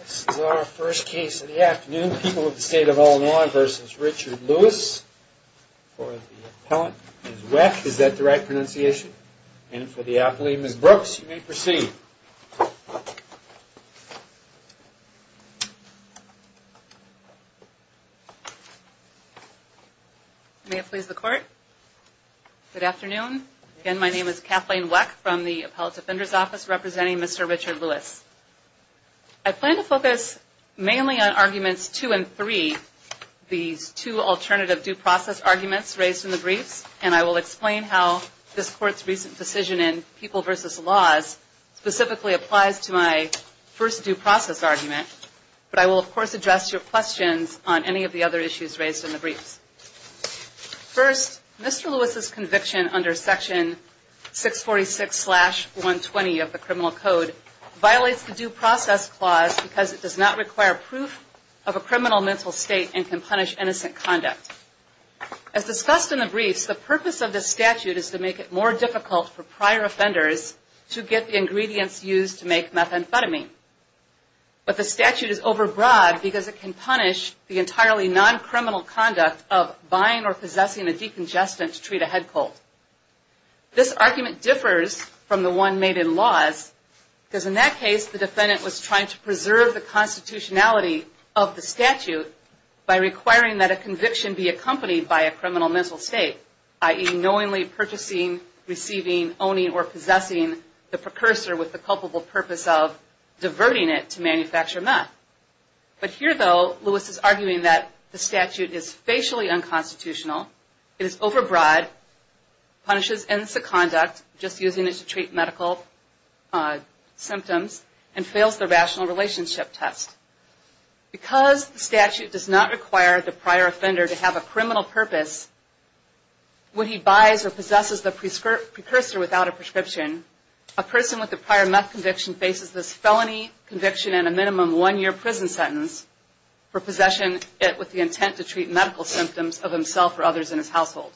This is our first case of the afternoon. People of the State of Illinois v. Richard Lewis. For the appellant, Ms. Weck. Is that the right pronunciation? And for the appellee, Ms. Brooks. You may proceed. May it please the court. Good afternoon. Again, my name is Kathleen Weck from the Appellate Defender's Office representing Mr. Richard Lewis. I plan to focus mainly on Arguments 2 and 3. These two alternative due process arguments raised in the briefs. And I will explain how this court's recent decision in People v. Laws specifically applies to my first due process argument. But I will, of course, address your questions on any of the other issues raised in the briefs. First, Mr. Lewis' conviction under Section 646-120 of the Criminal Code violates the Due Process Clause because it does not require proof of a criminal mental state and can punish innocent conduct. As discussed in the briefs, the purpose of this statute is to make it more difficult for prior offenders to get the ingredients used to make methamphetamine. But the statute is overbroad because it can punish the entirely non-criminal conduct of buying or possessing a decongestant to treat a head cold. This argument differs from the one made in Laws because in that case, the defendant was trying to preserve the constitutionality of the statute by requiring that a conviction be accompanied by a criminal mental state, i.e. knowingly purchasing, receiving, owning, or possessing the precursor with the culpable purpose of diverting it to manufacture meth. But here, though, Lewis is arguing that the statute is facially unconstitutional, it is overbroad, punishes innocent conduct, just using it to treat medical symptoms, and fails the rational relationship test. Because the statute does not require the prior offender to have a criminal purpose when he buys or possesses the precursor without a prescription, a person with a prior meth conviction faces this felony conviction and a minimum one-year prison sentence for possession with the intent to treat medical symptoms of himself or others in his household.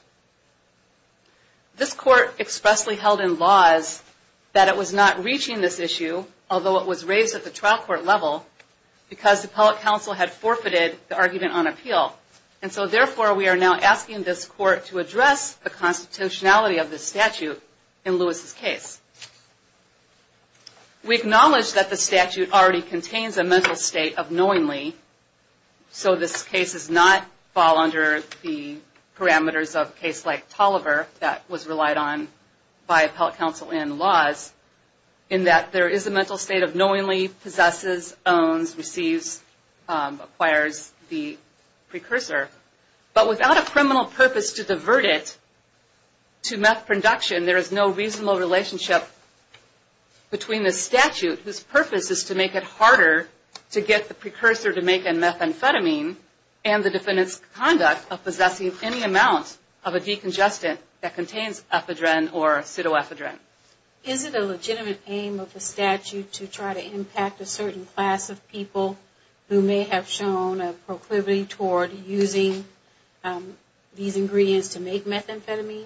This court expressly held in Laws that it was not reaching this issue, although it was raised at the trial court level, because the public counsel had forfeited the argument on appeal. And so, therefore, we are now asking this court to address the constitutionality of the statute in Lewis' case. We acknowledge that the statute already contains a mental state of knowingly, so this case does not fall under the parameters of a case like Tolliver that was relied on by appellate counsel in Laws, in that there is a mental state of knowingly possesses, owns, receives, acquires the precursor, but without a criminal purpose to divert it to meth production. There is no reasonable relationship between the statute, whose purpose is to make it harder to get the precursor to make a methamphetamine and the defendant's conduct of possessing any amount of a decongestant that contains ephedrine or pseudoephedrine. Is it a legitimate aim of the statute to try to impact a certain class of people who may have shown a proclivity toward using these ingredients to make methamphetamine?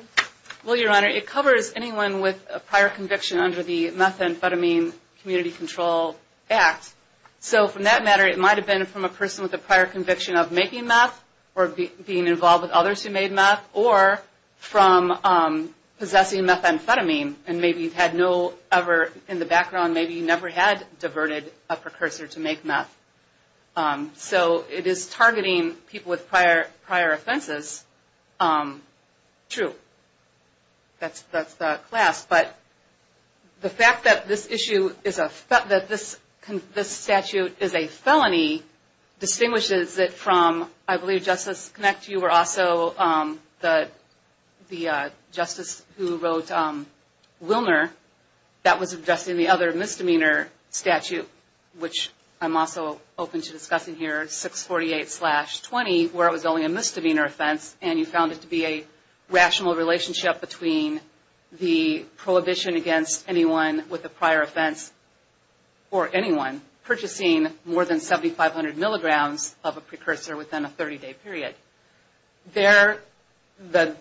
Well, Your Honor, it covers anyone with a prior conviction under the Methamphetamine Community Control Act. So, for that matter, it might have been from a person with a prior conviction of making meth, or being involved with others who made meth, or from possessing methamphetamine. And maybe you've had no ever, in the background, maybe you never had diverted a precursor to make meth. So, it is targeting people with prior offenses. True. That's the class. But the fact that this statute is a felony distinguishes it from, I believe, Justice Knecht, you were also the justice who wrote Willner, that was addressing the other misdemeanor statute, which I'm also open to discussing here, 648-20, where it was only a misdemeanor offense, and you found it to be a rational relationship between the prohibition against anyone with a prior offense for anyone purchasing more than 7,500 milligrams of a precursor within a 30-day period. There, the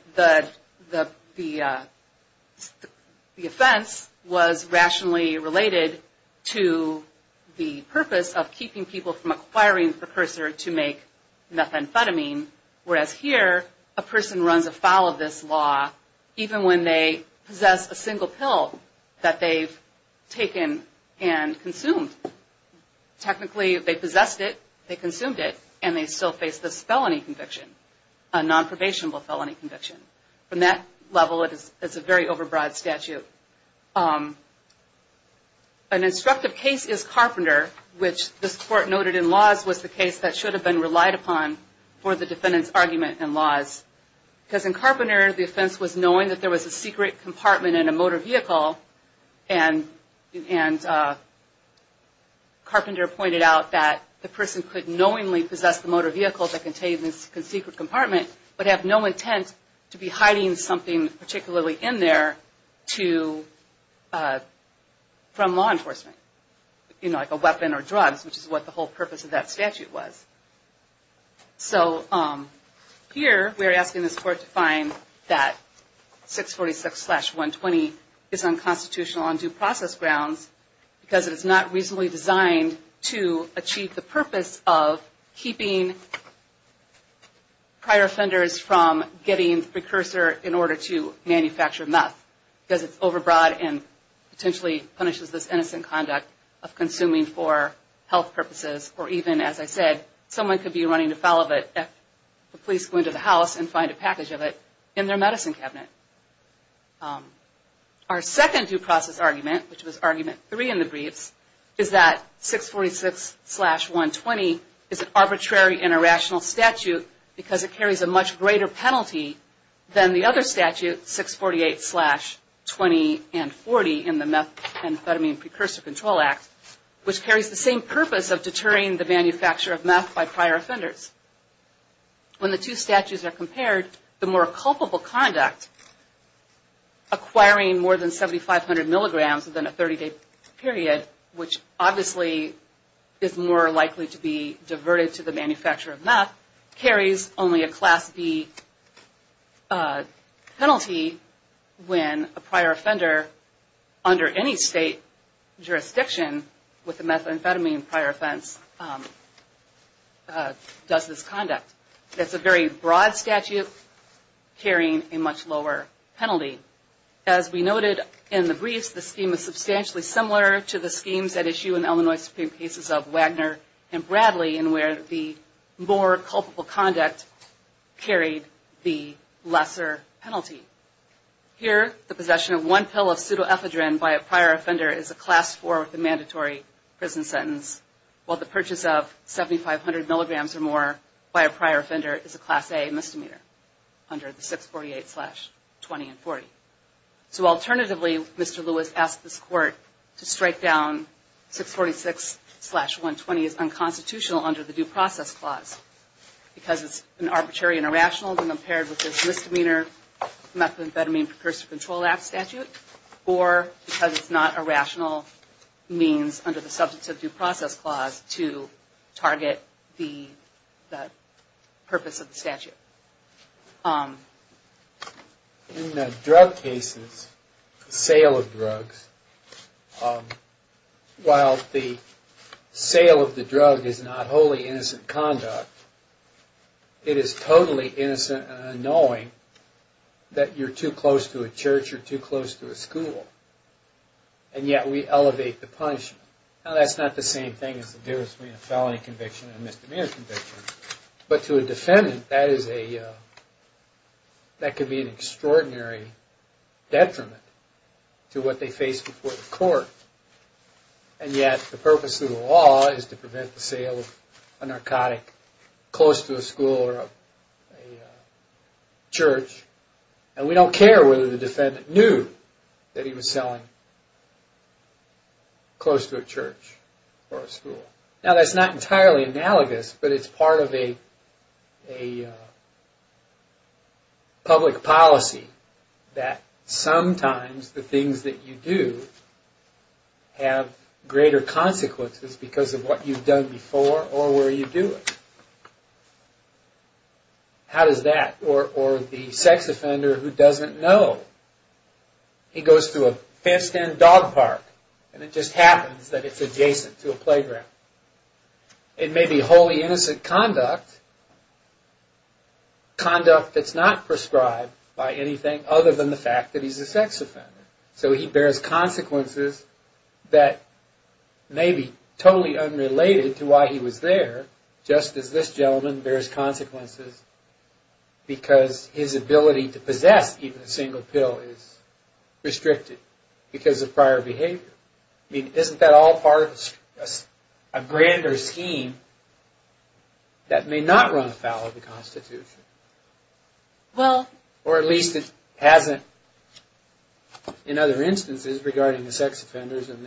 offense was rationally related to the purpose of keeping people from acquiring a precursor to make methamphetamine, whereas here, a person runs afoul of this law, even when they possess a single pill that they've taken and consumed. Technically, they possessed it, they consumed it, and they still face this felony conviction, a nonprobationable felony conviction. From that level, it's a very overbroad statute. An instructive case is Carpenter, which this court noted in laws was the case that should have been relied upon for the defendant's argument in laws. Because in Carpenter, the offense was knowing that there was a secret compartment in a motor vehicle, and Carpenter pointed out that the person could knowingly possess the motor vehicle that contained this secret compartment, but have no intent to be hiding something particularly in there from law enforcement. You know, like a weapon or drugs, which is what the whole purpose of that statute was. So here, we're asking this court to find that 646-120 is unconstitutional on due process grounds, because it is not reasonably designed to achieve the purpose of keeping prior offenders from getting the precursor in order to manufacture meth, because it's overbroad and potentially punishes this innocent conduct of consuming for health purposes, or even, as I said, someone could be running afoul of it if the police go into the house and find a package of it in their medicine cabinet. Our second due process argument, which was argument three in the briefs, is that 646-120 is an arbitrary and irrational statute, because it carries a much greater penalty than the other statute, 648-20 and 40, in the Methamphetamine Precursor Control Act, which carries the same purpose of deterring the manufacture of meth by prior offenders. When the two statutes are compared, the more culpable conduct, acquiring more than 7,500 milligrams within a 30-day period, which obviously is more likely to be diverted to the manufacture of meth, carries only a Class B penalty when a prior offender under any state jurisdiction with a methamphetamine prior offense does this conduct. It's a very broad statute carrying a much lower penalty. As we noted in the briefs, the scheme is substantially similar to the schemes at issue in the Illinois Supreme Cases of Wagner and Bradley, in where the more culpable conduct carried the lesser penalty. Here, the possession of one pill of pseudoephedrine by a prior offender is a Class IV with a mandatory prison sentence, while the purchase of 7,500 milligrams or more by a prior offender is a Class A misdemeanor under the 648-20 and 40. Alternatively, Mr. Lewis asked this Court to strike down 646-120 as unconstitutional under the Due Process Clause because it's an arbitrary and irrational when compared with this Misdemeanor Methamphetamine Precursor Control Act statute, or because it's not a rational means under the Substance of Due Process Clause to target the purpose of the statute. In the drug cases, the sale of drugs, while the sale of the drug is not wholly innocent conduct, it is totally innocent and annoying that you're too close to a church or too close to a school, and yet we elevate the punishment. Now, that's not the same thing as the difference between a felony conviction and a misdemeanor conviction, but to a defendant, that could be an extraordinary detriment to what they face before the court, and yet the purpose of the law is to prevent the sale of a narcotic close to a school or a church, and we don't care whether the defendant knew that he was selling close to a church or a school. Now, that's not entirely analogous, but it's part of a public policy that sometimes the things that you do have greater consequences because of what you've done before or where you do it. How does that, or the sex offender who doesn't know, he goes to a fenced-in dog park, and it just happens that it's adjacent to a playground. It may be wholly innocent conduct, conduct that's not prescribed by anything other than the fact that he's a sex offender, so he bears consequences that may be totally unrelated to why he was there, just as this gentleman bears consequences because his ability to possess even a single pill is restricted because of prior behavior. I mean, isn't that all part of a grander scheme that may not run afoul of the Constitution? Or at least it hasn't in other instances regarding the sex offenders and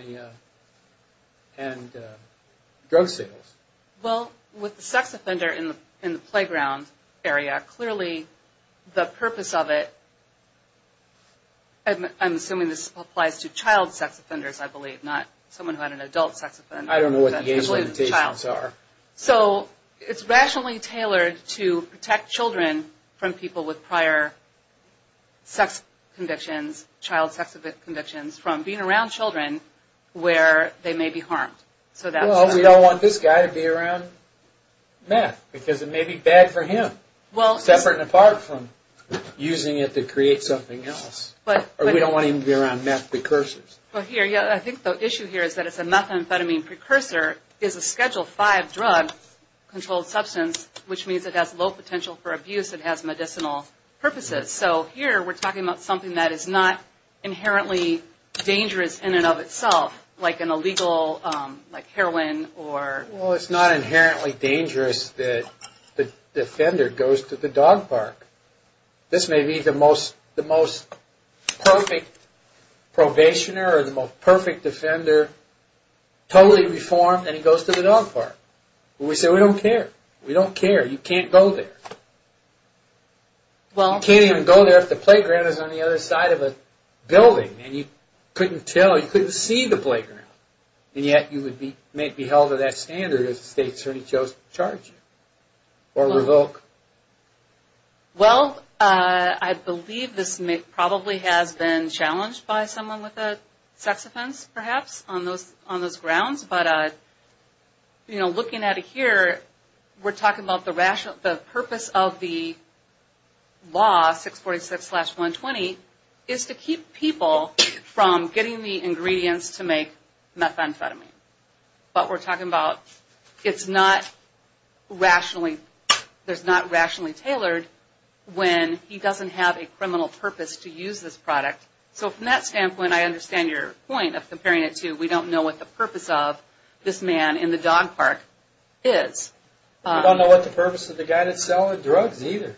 the drug sales. Well, with the sex offender in the playground area, clearly the purpose of it, I'm assuming this applies to child sex offenders, I believe, not someone who had an adult sex offender. I don't know what the game's limitations are. So, it's rationally tailored to protect children from people with prior sex convictions, child sex convictions, from being around children where they may be harmed. Well, we don't want this guy to be around meth, because it may be bad for him, separate and apart from using it to create something else. Or we don't want him to be around meth precursors. I think the issue here is that it's a methamphetamine precursor, is a Schedule V drug controlled substance, which means it has low potential for abuse, it has medicinal purposes. So, here we're talking about something that is not inherently dangerous in and of itself, like an illegal heroin or... Well, it's not inherently dangerous that the offender goes to the dog park. This may be the most perfect probationer or the most perfect offender, totally reformed, and he goes to the dog park. We say, we don't care. We don't care. You can't go there. You can't even go there if the playground is on the other side of a building, and you couldn't tell, you couldn't see the playground, and yet you would be held to that standard if the state certainly chose to charge you or revoke. Well, I believe this probably has been challenged by someone with a sex offense, perhaps, on those grounds, but looking at it here, we're talking about the purpose of the law, 646-120, is to keep people from getting the ingredients to make methamphetamine. But we're talking about, it's not rationally, there's not rationally tailored when he doesn't have a criminal purpose to use this product. So, from that standpoint, I understand your point of comparing it to, we don't know what the purpose of this man in the dog park is. We don't know what the purpose of the guy that's selling drugs, either.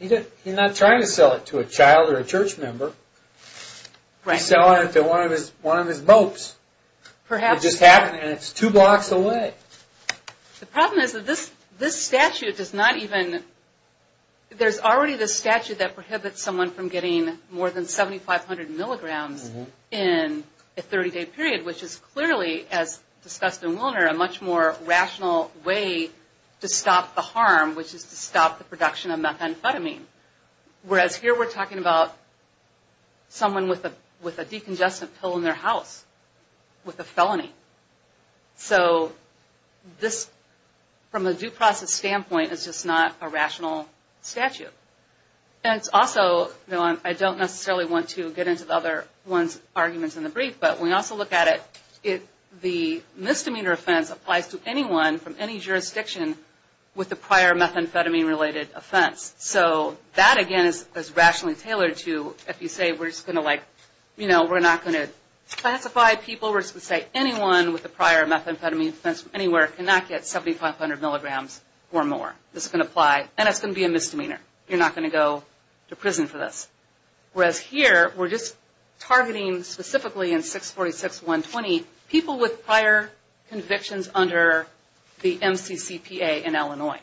He's not trying to sell it to a child or a church member. He's selling it to one of his popes. It just happened, and it's two blocks away. The problem is that this statute does not even, there's already this statute that prohibits someone from getting more than 7,500 milligrams in a 30-day period, which is clearly, as discussed in Willner, a much more rational way to stop the harm, which is to stop the production of methamphetamine. Whereas here, we're talking about someone with a decongestant pill in their house, with a felony. So, this, from a due process standpoint, is just not a rational statute. And it's also, I don't necessarily want to get into the other one's arguments in the brief, but when we also look at it, the misdemeanor offense applies to anyone from any jurisdiction with a prior methamphetamine-related offense. So, that again is rationally tailored to, if you say we're just going to like, you know, we're not going to classify people. We're just going to say anyone with a prior methamphetamine offense from anywhere cannot get 7,500 milligrams or more. This is going to apply, and it's going to be a misdemeanor. You're not going to go to prison for this. Whereas here, we're just targeting specifically in 646.120, people with prior convictions under the MCCPA in Illinois.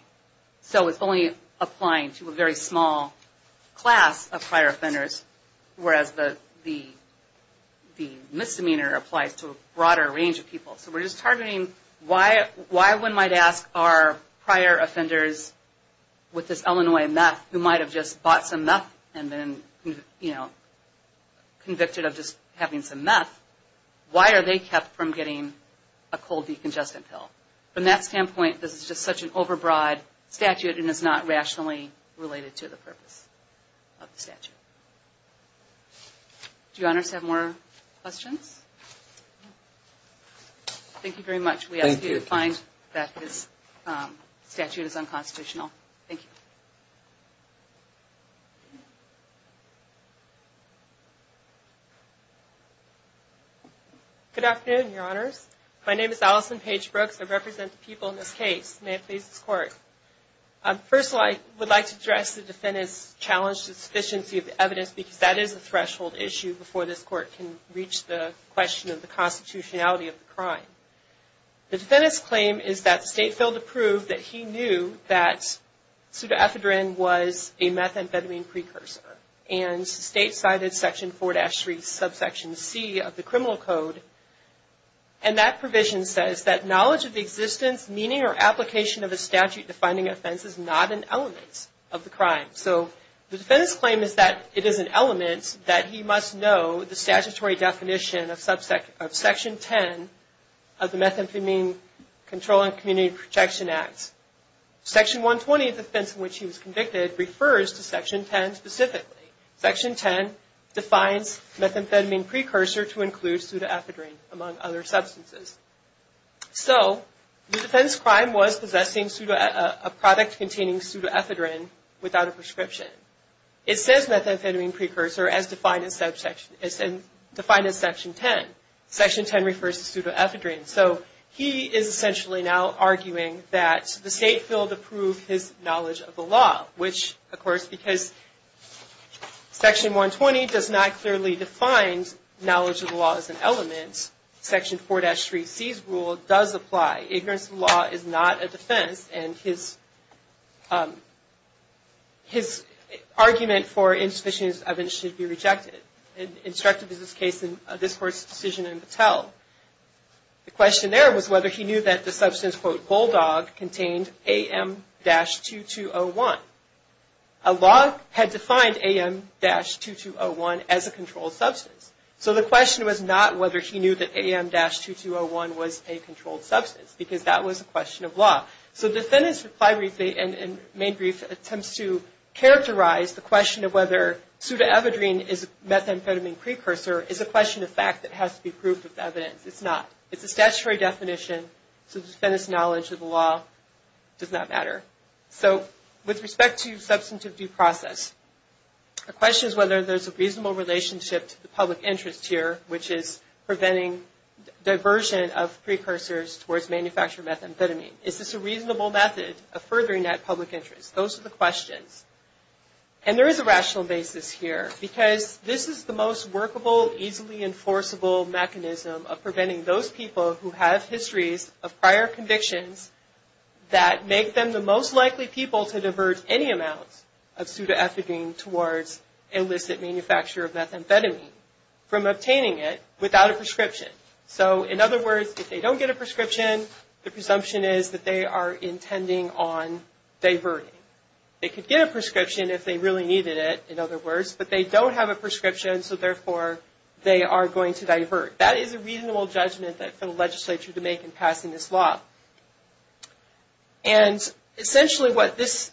So, it's only applying to a very small class of prior offenders, whereas the misdemeanor applies to a broader range of people. So, we're just targeting why one might ask, are prior offenders with this Illinois meth who might have just bought some meth and been, you know, convicted of just having some meth, why are they kept from getting a cold decongestant pill? From that standpoint, this is just such an overbroad statute and is not rationally related to the purpose of the statute. Do you honors have more questions? Thank you very much. We ask you to find that this statute is unconstitutional. Thank you. Good afternoon, your honors. My name is Allison Page Brooks. I represent the people in this case. May it please this Court. First of all, I would like to address the defendant's challenge to the sufficiency of the evidence because that is a threshold issue before this Court can reach the question of the constitutionality of the crime. The defendant's claim is that the State failed to prove that he knew that pseudoethadrine was a meth and betamine precursor and State cited Section 4-3 subsection C of the Criminal Code and that provision says that knowledge of the existence, meaning, or application of a statute defining offense is not an element of the crime. So, the defendant's claim is that it is an element that he must know the statutory definition of Section 10 of the Methamphetamine Control and Community Protection Act. Section 120 of the offense in which he was convicted refers to Section 10 specifically. Section 10 defines methamphetamine precursor to include pseudoethadrine, among other substances. So, the defendant's crime was possessing a product containing pseudoethadrine without a prescription. It says methamphetamine precursor as defined in Section 10. Section 10 refers to pseudoethadrine. So, he is essentially now arguing that the State failed to prove his knowledge of the law, which, of course, because Section 120 does not clearly define knowledge of the law as an element, Section 4-3C's rule does apply. Ignorance of the law is not a defense and his argument for insufficiency of evidence should be rejected. Instructed is this case in this Court's decision in Mattel. The question there was whether he knew that the substance, quote, Bulldog contained AM-2201. A law had defined AM-2201 as a controlled substance. So, the question was not whether he knew that AM-2201 was a controlled substance, because that was a question of law. So, the defendant's reply and main brief attempts to characterize the question of whether pseudoethadrine is a methamphetamine precursor is a question of fact that has to be proved with evidence. It's not. It's a statutory definition, so the defendant's knowledge of the law does not matter. So, with respect to substantive due process, the question is whether there's a reasonable relationship to the public interest here, which is preventing diversion of precursors towards manufactured methamphetamine. Is this a reasonable method of furthering that public interest? Those are the questions. And there is a rational basis here, because this is the most workable, easily enforceable mechanism of preventing those people who have histories of prior convictions that make them the most likely people to divert any amounts of pseudoethadrine towards illicit manufacture of methamphetamine from obtaining it without a prescription. So, in other words, if they don't get a prescription, the presumption is that they are intending on diverting. They could get a prescription if they really needed it, in other words, but they don't have a prescription, so therefore they are going to divert. That is a reasonable judgment for the legislature to make in passing this law. And essentially what this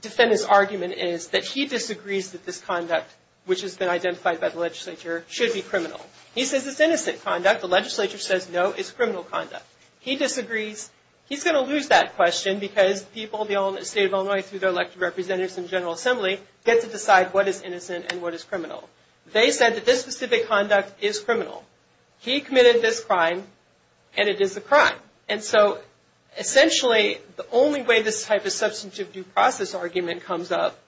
defendant's argument is that he disagrees that this conduct, which has been identified by the legislature, should be criminal. He says it's innocent conduct. The legislature says no, it's criminal conduct. He disagrees. He's going to lose that question because people in the state of Illinois, through their elected representatives and general assembly, get to decide what is innocent and what is criminal. They said that this specific conduct is criminal. He committed this crime, and it is a crime. And so, essentially, the only way this type of substantive due process argument comes up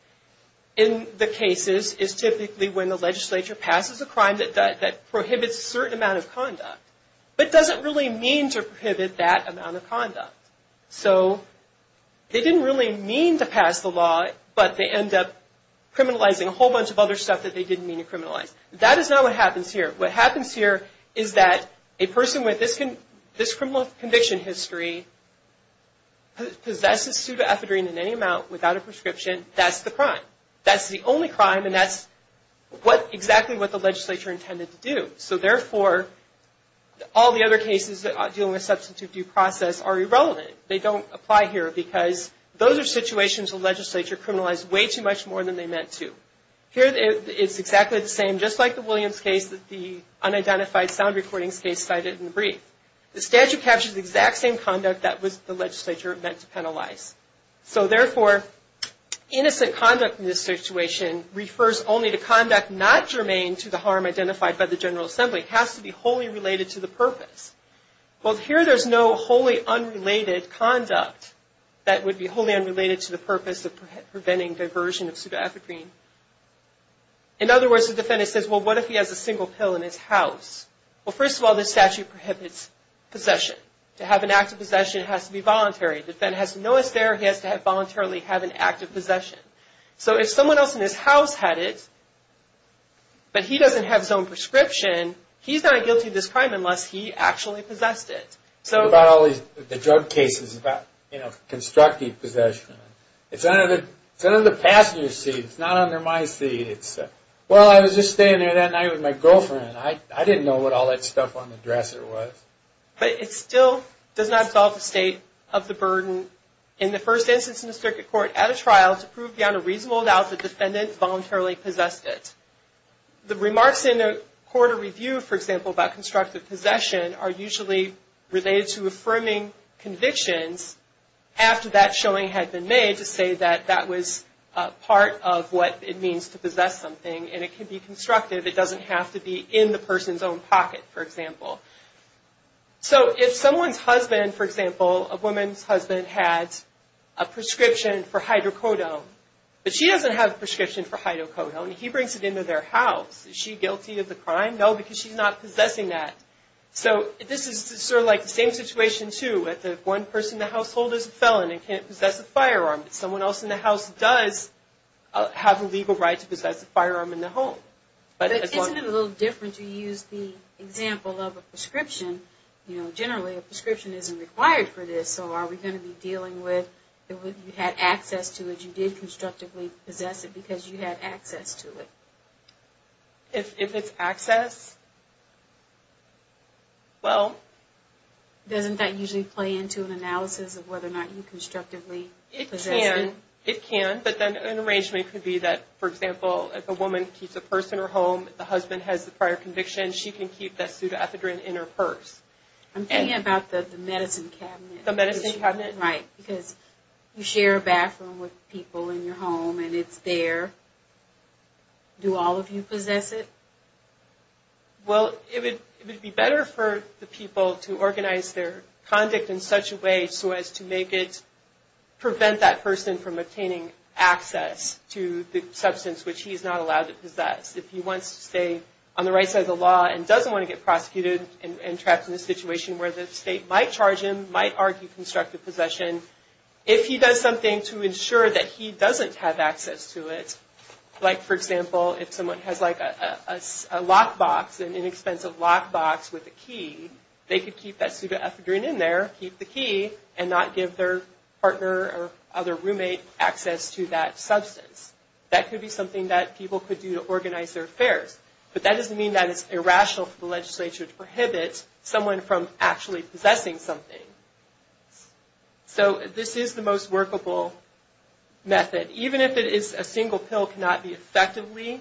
in the cases is typically when the legislature passes a crime that prohibits a certain amount of conduct, but doesn't really mean to prohibit that amount of conduct. So they didn't really mean to pass the law, but they end up criminalizing a whole bunch of other stuff that they didn't mean to criminalize. That is not what happens here. What happens here is that a person with this criminal conviction history possesses pseudoephedrine in any amount without a prescription. That's the crime. That's the only crime, and that's exactly what the legislature intended to do. So, therefore, all the other cases dealing with substantive due process are irrelevant. They don't apply here because those are situations the legislature criminalized way too much more than they meant to. Here, it's exactly the same, just like the Williams case, the unidentified sound recordings case cited in the brief. The statute captures the exact same conduct that the legislature meant to penalize. So, therefore, innocent conduct in this situation refers only to conduct not germane to the harm identified by the General Assembly. It has to be wholly related to the purpose. Well, here there's no wholly unrelated conduct that would be wholly unrelated to the purpose of preventing diversion of pseudoephedrine. In other words, the defendant says, well, what if he has a single pill in his house? Well, first of all, this statute prohibits possession. To have an act of possession, it has to be voluntary. The defendant has to know it's there. He has to voluntarily have an act of possession. So, if someone else in his house had it, but he doesn't have his own prescription, he's not guilty of this crime unless he actually possessed it. What about all these drug cases about, you know, constructive possession? It's under the passenger seat. It's not under my seat. It's, well, I was just staying there that night with my girlfriend. I didn't know what all that stuff on the dresser was. But it still does not solve the state of the burden. In the first instance in the circuit court, at a trial, to prove beyond a reasonable doubt, the defendant voluntarily possessed it. The remarks in a court of review, for example, about constructive possession are usually related to affirming convictions after that showing had been made to say that that was part of what it means to possess something. And it can be constructive. It doesn't have to be in the person's own pocket, for example. So, if someone's husband, for example, a woman's husband had a prescription for hydrocodone, but she doesn't have a prescription for hydrocodone. He brings it into their house. Is she guilty of the crime? No, because she's not possessing that. So, this is sort of like the same situation, too. If one person in the household is a felon and can't possess a firearm, someone else in the house does have a legal right to possess a firearm in the home. But isn't it a little different to use the example of a prescription? You know, generally, a prescription isn't required for this. So, are we going to be dealing with you had access to it. You did constructively possess it because you had access to it. If it's access, well. Doesn't that usually play into an analysis of whether or not you constructively possess it? It can. It can. But then an arrangement could be that, for example, if a woman keeps a purse in her home, if the husband has a prior conviction, she can keep that pseudoephedrine in her purse. I'm thinking about the medicine cabinet. The medicine cabinet. Right. Because you share a bathroom with people in your home and it's there. Do all of you possess it? Well, it would be better for the people to organize their conduct in such a way so as to make it, prevent that person from obtaining access to the substance which he is not allowed to possess. If he wants to stay on the right side of the law and doesn't want to get prosecuted and trapped in a situation where the state might charge him, might argue constructive possession, if he does something to ensure that he doesn't have access to it, like, for example, if someone has, like, a lockbox, an inexpensive lockbox with a key, they could keep that pseudoephedrine in there, keep the key, and not give their partner or other roommate access to that substance. That could be something that people could do to organize their affairs. But that doesn't mean that it's irrational for the legislature to prohibit someone from actually possessing something. So this is the most workable method. Even if it is a single pill cannot be effectively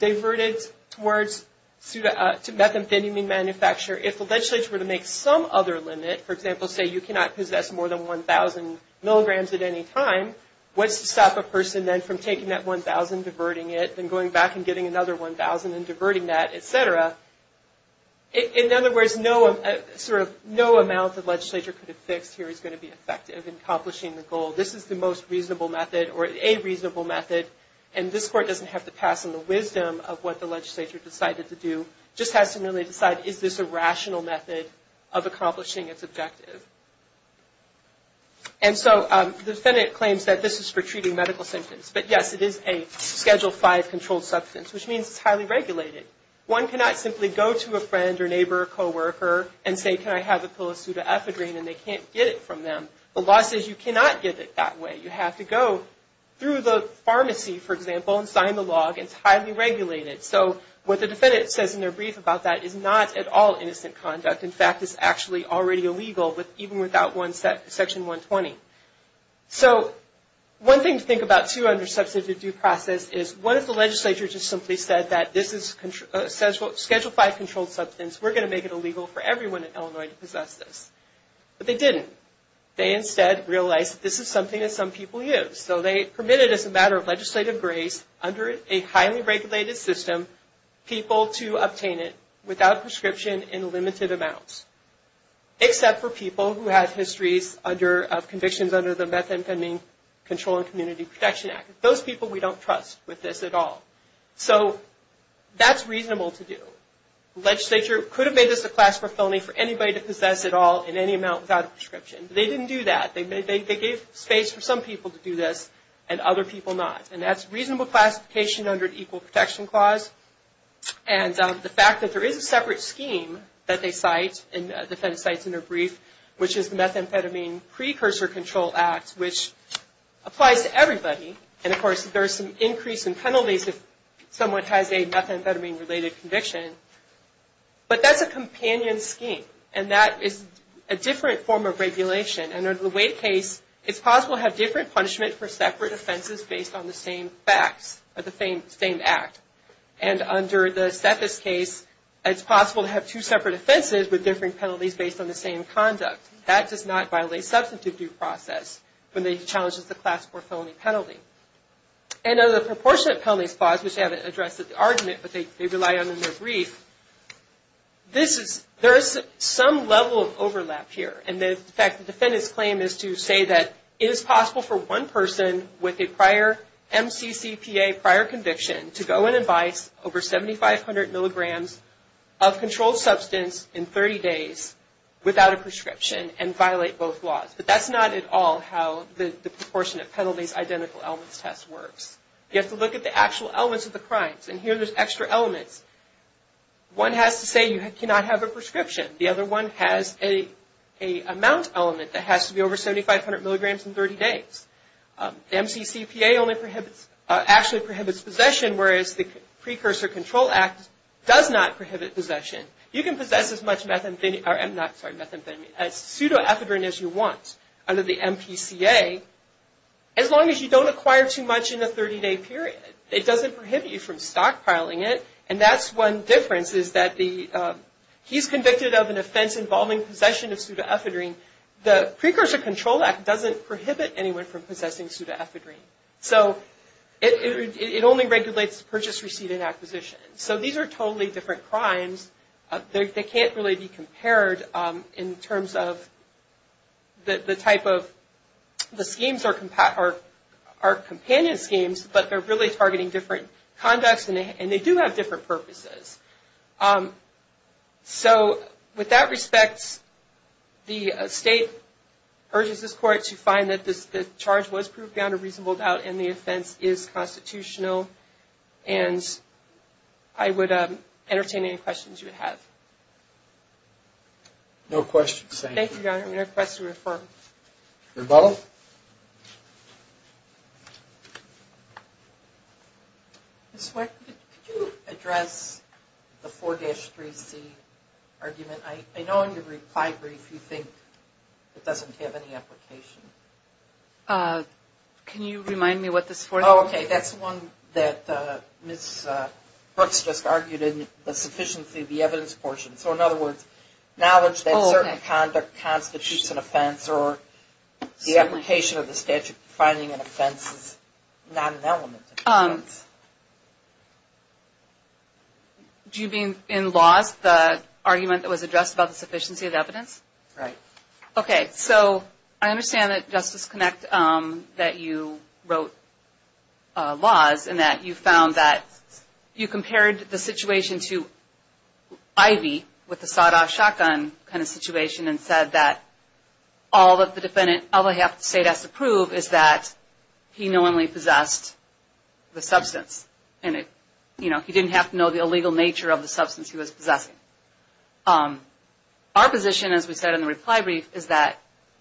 diverted towards methamphetamine manufacture, if the legislature were to make some other limit, for example, say you cannot possess more than 1,000 milligrams at any time, what's to stop a person then from taking that 1,000, diverting it, then going back and getting another 1,000 and diverting that, et cetera? In other words, no amount the legislature could have fixed here is going to be effective in accomplishing the goal. This is the most reasonable method or a reasonable method, and this court doesn't have to pass on the wisdom of what the legislature decided to do. It just has to really decide, is this a rational method of accomplishing its objective? And so the defendant claims that this is for treating medical symptoms. But, yes, it is a Schedule V controlled substance, which means it's highly regulated. One cannot simply go to a friend or neighbor or coworker and say, can I have a pseudoephedrine, and they can't get it from them. The law says you cannot get it that way. You have to go through the pharmacy, for example, and sign the log. It's highly regulated. So what the defendant says in their brief about that is not at all innocent conduct. In fact, it's actually already illegal, even without Section 120. So one thing to think about, too, under substantive due process, is what if the legislature just simply said that this is Schedule V controlled substance. We're going to make it illegal for everyone in Illinois to possess this. But they didn't. They instead realized that this is something that some people use. So they permitted, as a matter of legislative grace, under a highly regulated system, people to obtain it without prescription in limited amounts, except for people who have histories of convictions under the Methinfemine Control and Community Protection Act. Those people we don't trust with this at all. So that's reasonable to do. The legislature could have made this a class for felony for anybody to possess at all in any amount without a prescription. They didn't do that. They gave space for some people to do this and other people not. And that's reasonable classification under an Equal Protection Clause. And the fact that there is a separate scheme that they cite, and the defendant cites in their brief, which is the Methamphetamine Precursor Control Act, which applies to everybody. And, of course, there's some increase in penalties if someone has a methamphetamine-related conviction. But that's a companion scheme. And that is a different form of regulation. And under the Wade case, it's possible to have different punishment for separate offenses based on the same facts, or the same act. And under the Sethis case, it's possible to have two separate offenses with differing penalties based on the same conduct. That does not violate substantive due process when it challenges the class for felony penalty. And under the Proportionate Penalties Clause, which they haven't addressed at the argument, but they rely on in their brief, there is some level of overlap here. And, in fact, the defendant's claim is to say that it is possible for one person with a prior MCCPA, prior conviction, to go and advise over 7,500 milligrams of controlled substance in 30 days without a prescription and violate both laws. But that's not at all how the Proportionate Penalties Identical Elements Test works. You have to look at the actual elements of the crimes. And here there's extra elements. One has to say you cannot have a prescription. The other one has an amount element that has to be over 7,500 milligrams in 30 days. MCCPA only prohibits, actually prohibits possession, whereas the Precursor Control Act does not prohibit possession. You can possess as much methamphetamine, or, I'm not, sorry, methamphetamine, as pseudo-ethadrine as you want under the MPCA, as long as you don't acquire too much in the 30-day period. It doesn't prohibit you from stockpiling it, and that's one difference is that the, he's convicted of an offense involving possession of pseudo-ethadrine. The Precursor Control Act doesn't prohibit anyone from possessing pseudo-ethadrine. So it only regulates purchase, receive, and acquisition. So these are totally different crimes. They can't really be compared in terms of the type of, the schemes are companion schemes, but they're really targeting different conducts, and they do have different purposes. So with that respect, the State urges this Court to find that the charge was proved beyond a reasonable doubt, and the offense is constitutional, and I would entertain any questions you would have. No questions, thank you. Thank you, Your Honor. I'm going to request a referral. Rebuttal. Ms. White, could you address the 4-3C argument? I know in your reply brief you think it doesn't have any application. Can you remind me what this 4-3C is? Oh, okay. That's the one that Ms. Brooks just argued in the sufficiency of the evidence portion. So in other words, knowledge that certain conduct constitutes an offense or the application of the statute defining an offense is not an element of the offense. Do you mean in laws, the argument that was addressed about the sufficiency of evidence? Right. Okay, so I understand that, Justice Connick, that you wrote laws and that you found that you compared the situation to Ivy with the sawed-off shotgun kind of situation and said that all that the defendant, although the State has to prove, is that he knowingly possessed the substance, and he didn't have to know the illegal nature of the substance he was possessing. Our position, as we said in the reply brief, is that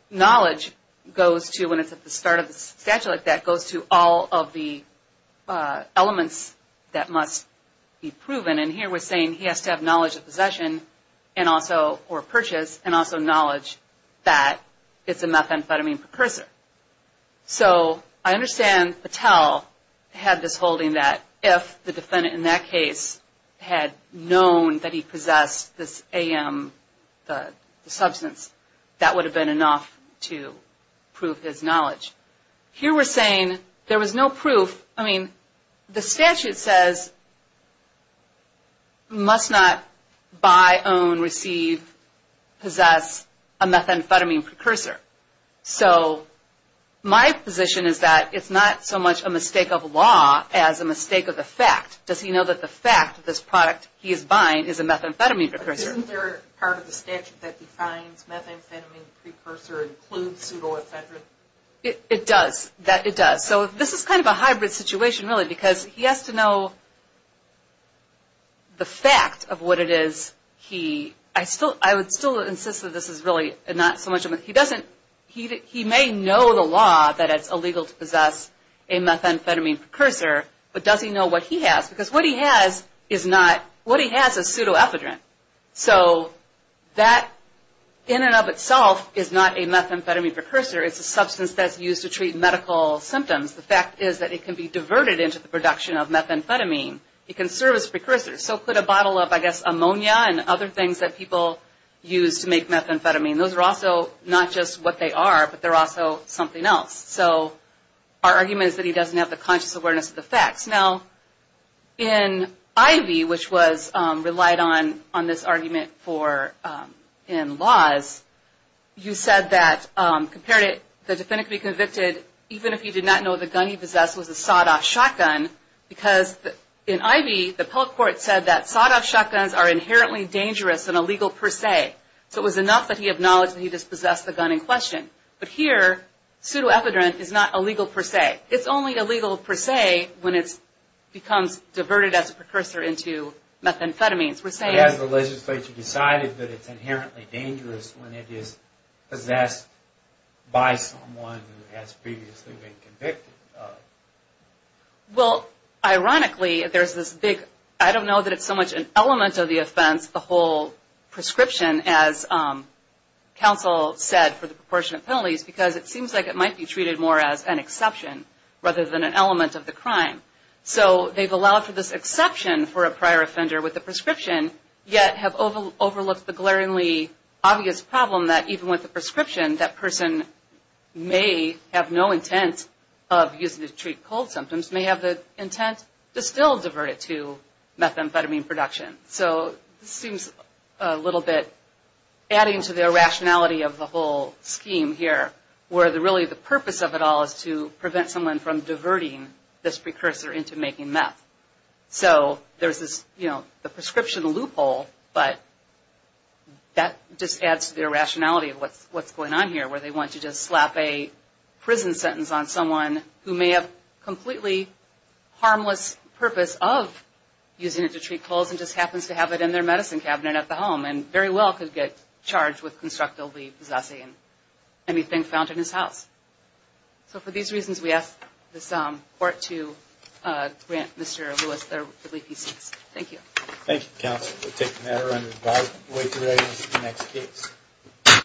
knowledge goes to, when it's at the start of the statute like that, goes to all of the elements that must be proven. And here we're saying he has to have knowledge of possession or purchase and also knowledge that it's a methamphetamine precursor. So I understand Patel had this holding that if the defendant in that case had known that he possessed this AM, the substance, that would have been enough to prove his knowledge. Here we're saying there was no proof. I mean, the statute says, must not buy, own, receive, possess a methamphetamine precursor. So my position is that it's not so much a mistake of law as a mistake of the fact. Does he know that the fact that this product he is buying is a methamphetamine precursor? Isn't there part of the statute that defines methamphetamine precursor includes pseudoephedrine? It does. It does. So this is kind of a hybrid situation, really, because he has to know the fact of what it is. I would still insist that this is really not so much a myth. He may know the law that it's illegal to possess a methamphetamine precursor, but does he know what he has? Because what he has is pseudoephedrine. So that in and of itself is not a methamphetamine precursor. It's a substance that's used to treat medical symptoms. The fact is that it can be diverted into the production of methamphetamine. It can serve as a precursor. So could a bottle of, I guess, ammonia and other things that people use to make methamphetamine. Those are also not just what they are, but they're also something else. So our argument is that he doesn't have the conscious awareness of the facts. Now, in Ivey, which was relied on this argument in laws, you said that, compared it, the defendant could be convicted even if he did not know the gun he possessed was a sawed-off shotgun. Because in Ivey, the public court said that sawed-off shotguns are inherently dangerous and illegal per se. So it was enough that he acknowledged that he dispossessed the gun in question. But here, pseudoephedrine is not illegal per se. It's only illegal per se when it becomes diverted as a precursor into methamphetamines. We're saying... But has the legislature decided that it's inherently dangerous when it is possessed by someone who has previously been convicted of? Well, ironically, there's this big, I don't know that it's so much an element of the offense, the whole prescription, as counsel said, for the proportionate penalties, because it seems like it might be treated more as an exception rather than an element of the crime. So they've allowed for this exception for a prior offender with the prescription, yet have overlooked the glaringly obvious problem that even with the prescription, that person may have no intent of using it to treat cold symptoms, may have the intent to still divert it to methamphetamine production. So this seems a little bit adding to the irrationality of the whole scheme here, where really the purpose of it all is to prevent someone from diverting this precursor into making meth. So there's this, you know, the prescription loophole, but that just adds to the irrationality of what's going on here, where they want to just slap a prison sentence on someone who may have completely harmless purpose of using it to treat colds and just happens to have it in their medicine cabinet at the home and very well could get charged with constructively possessing anything found in his house. So for these reasons, we ask this court to grant Mr. Lewis their plea peace. Thank you. Thank you, counsel. We'll take the matter under advisement. We'll wait until the next case.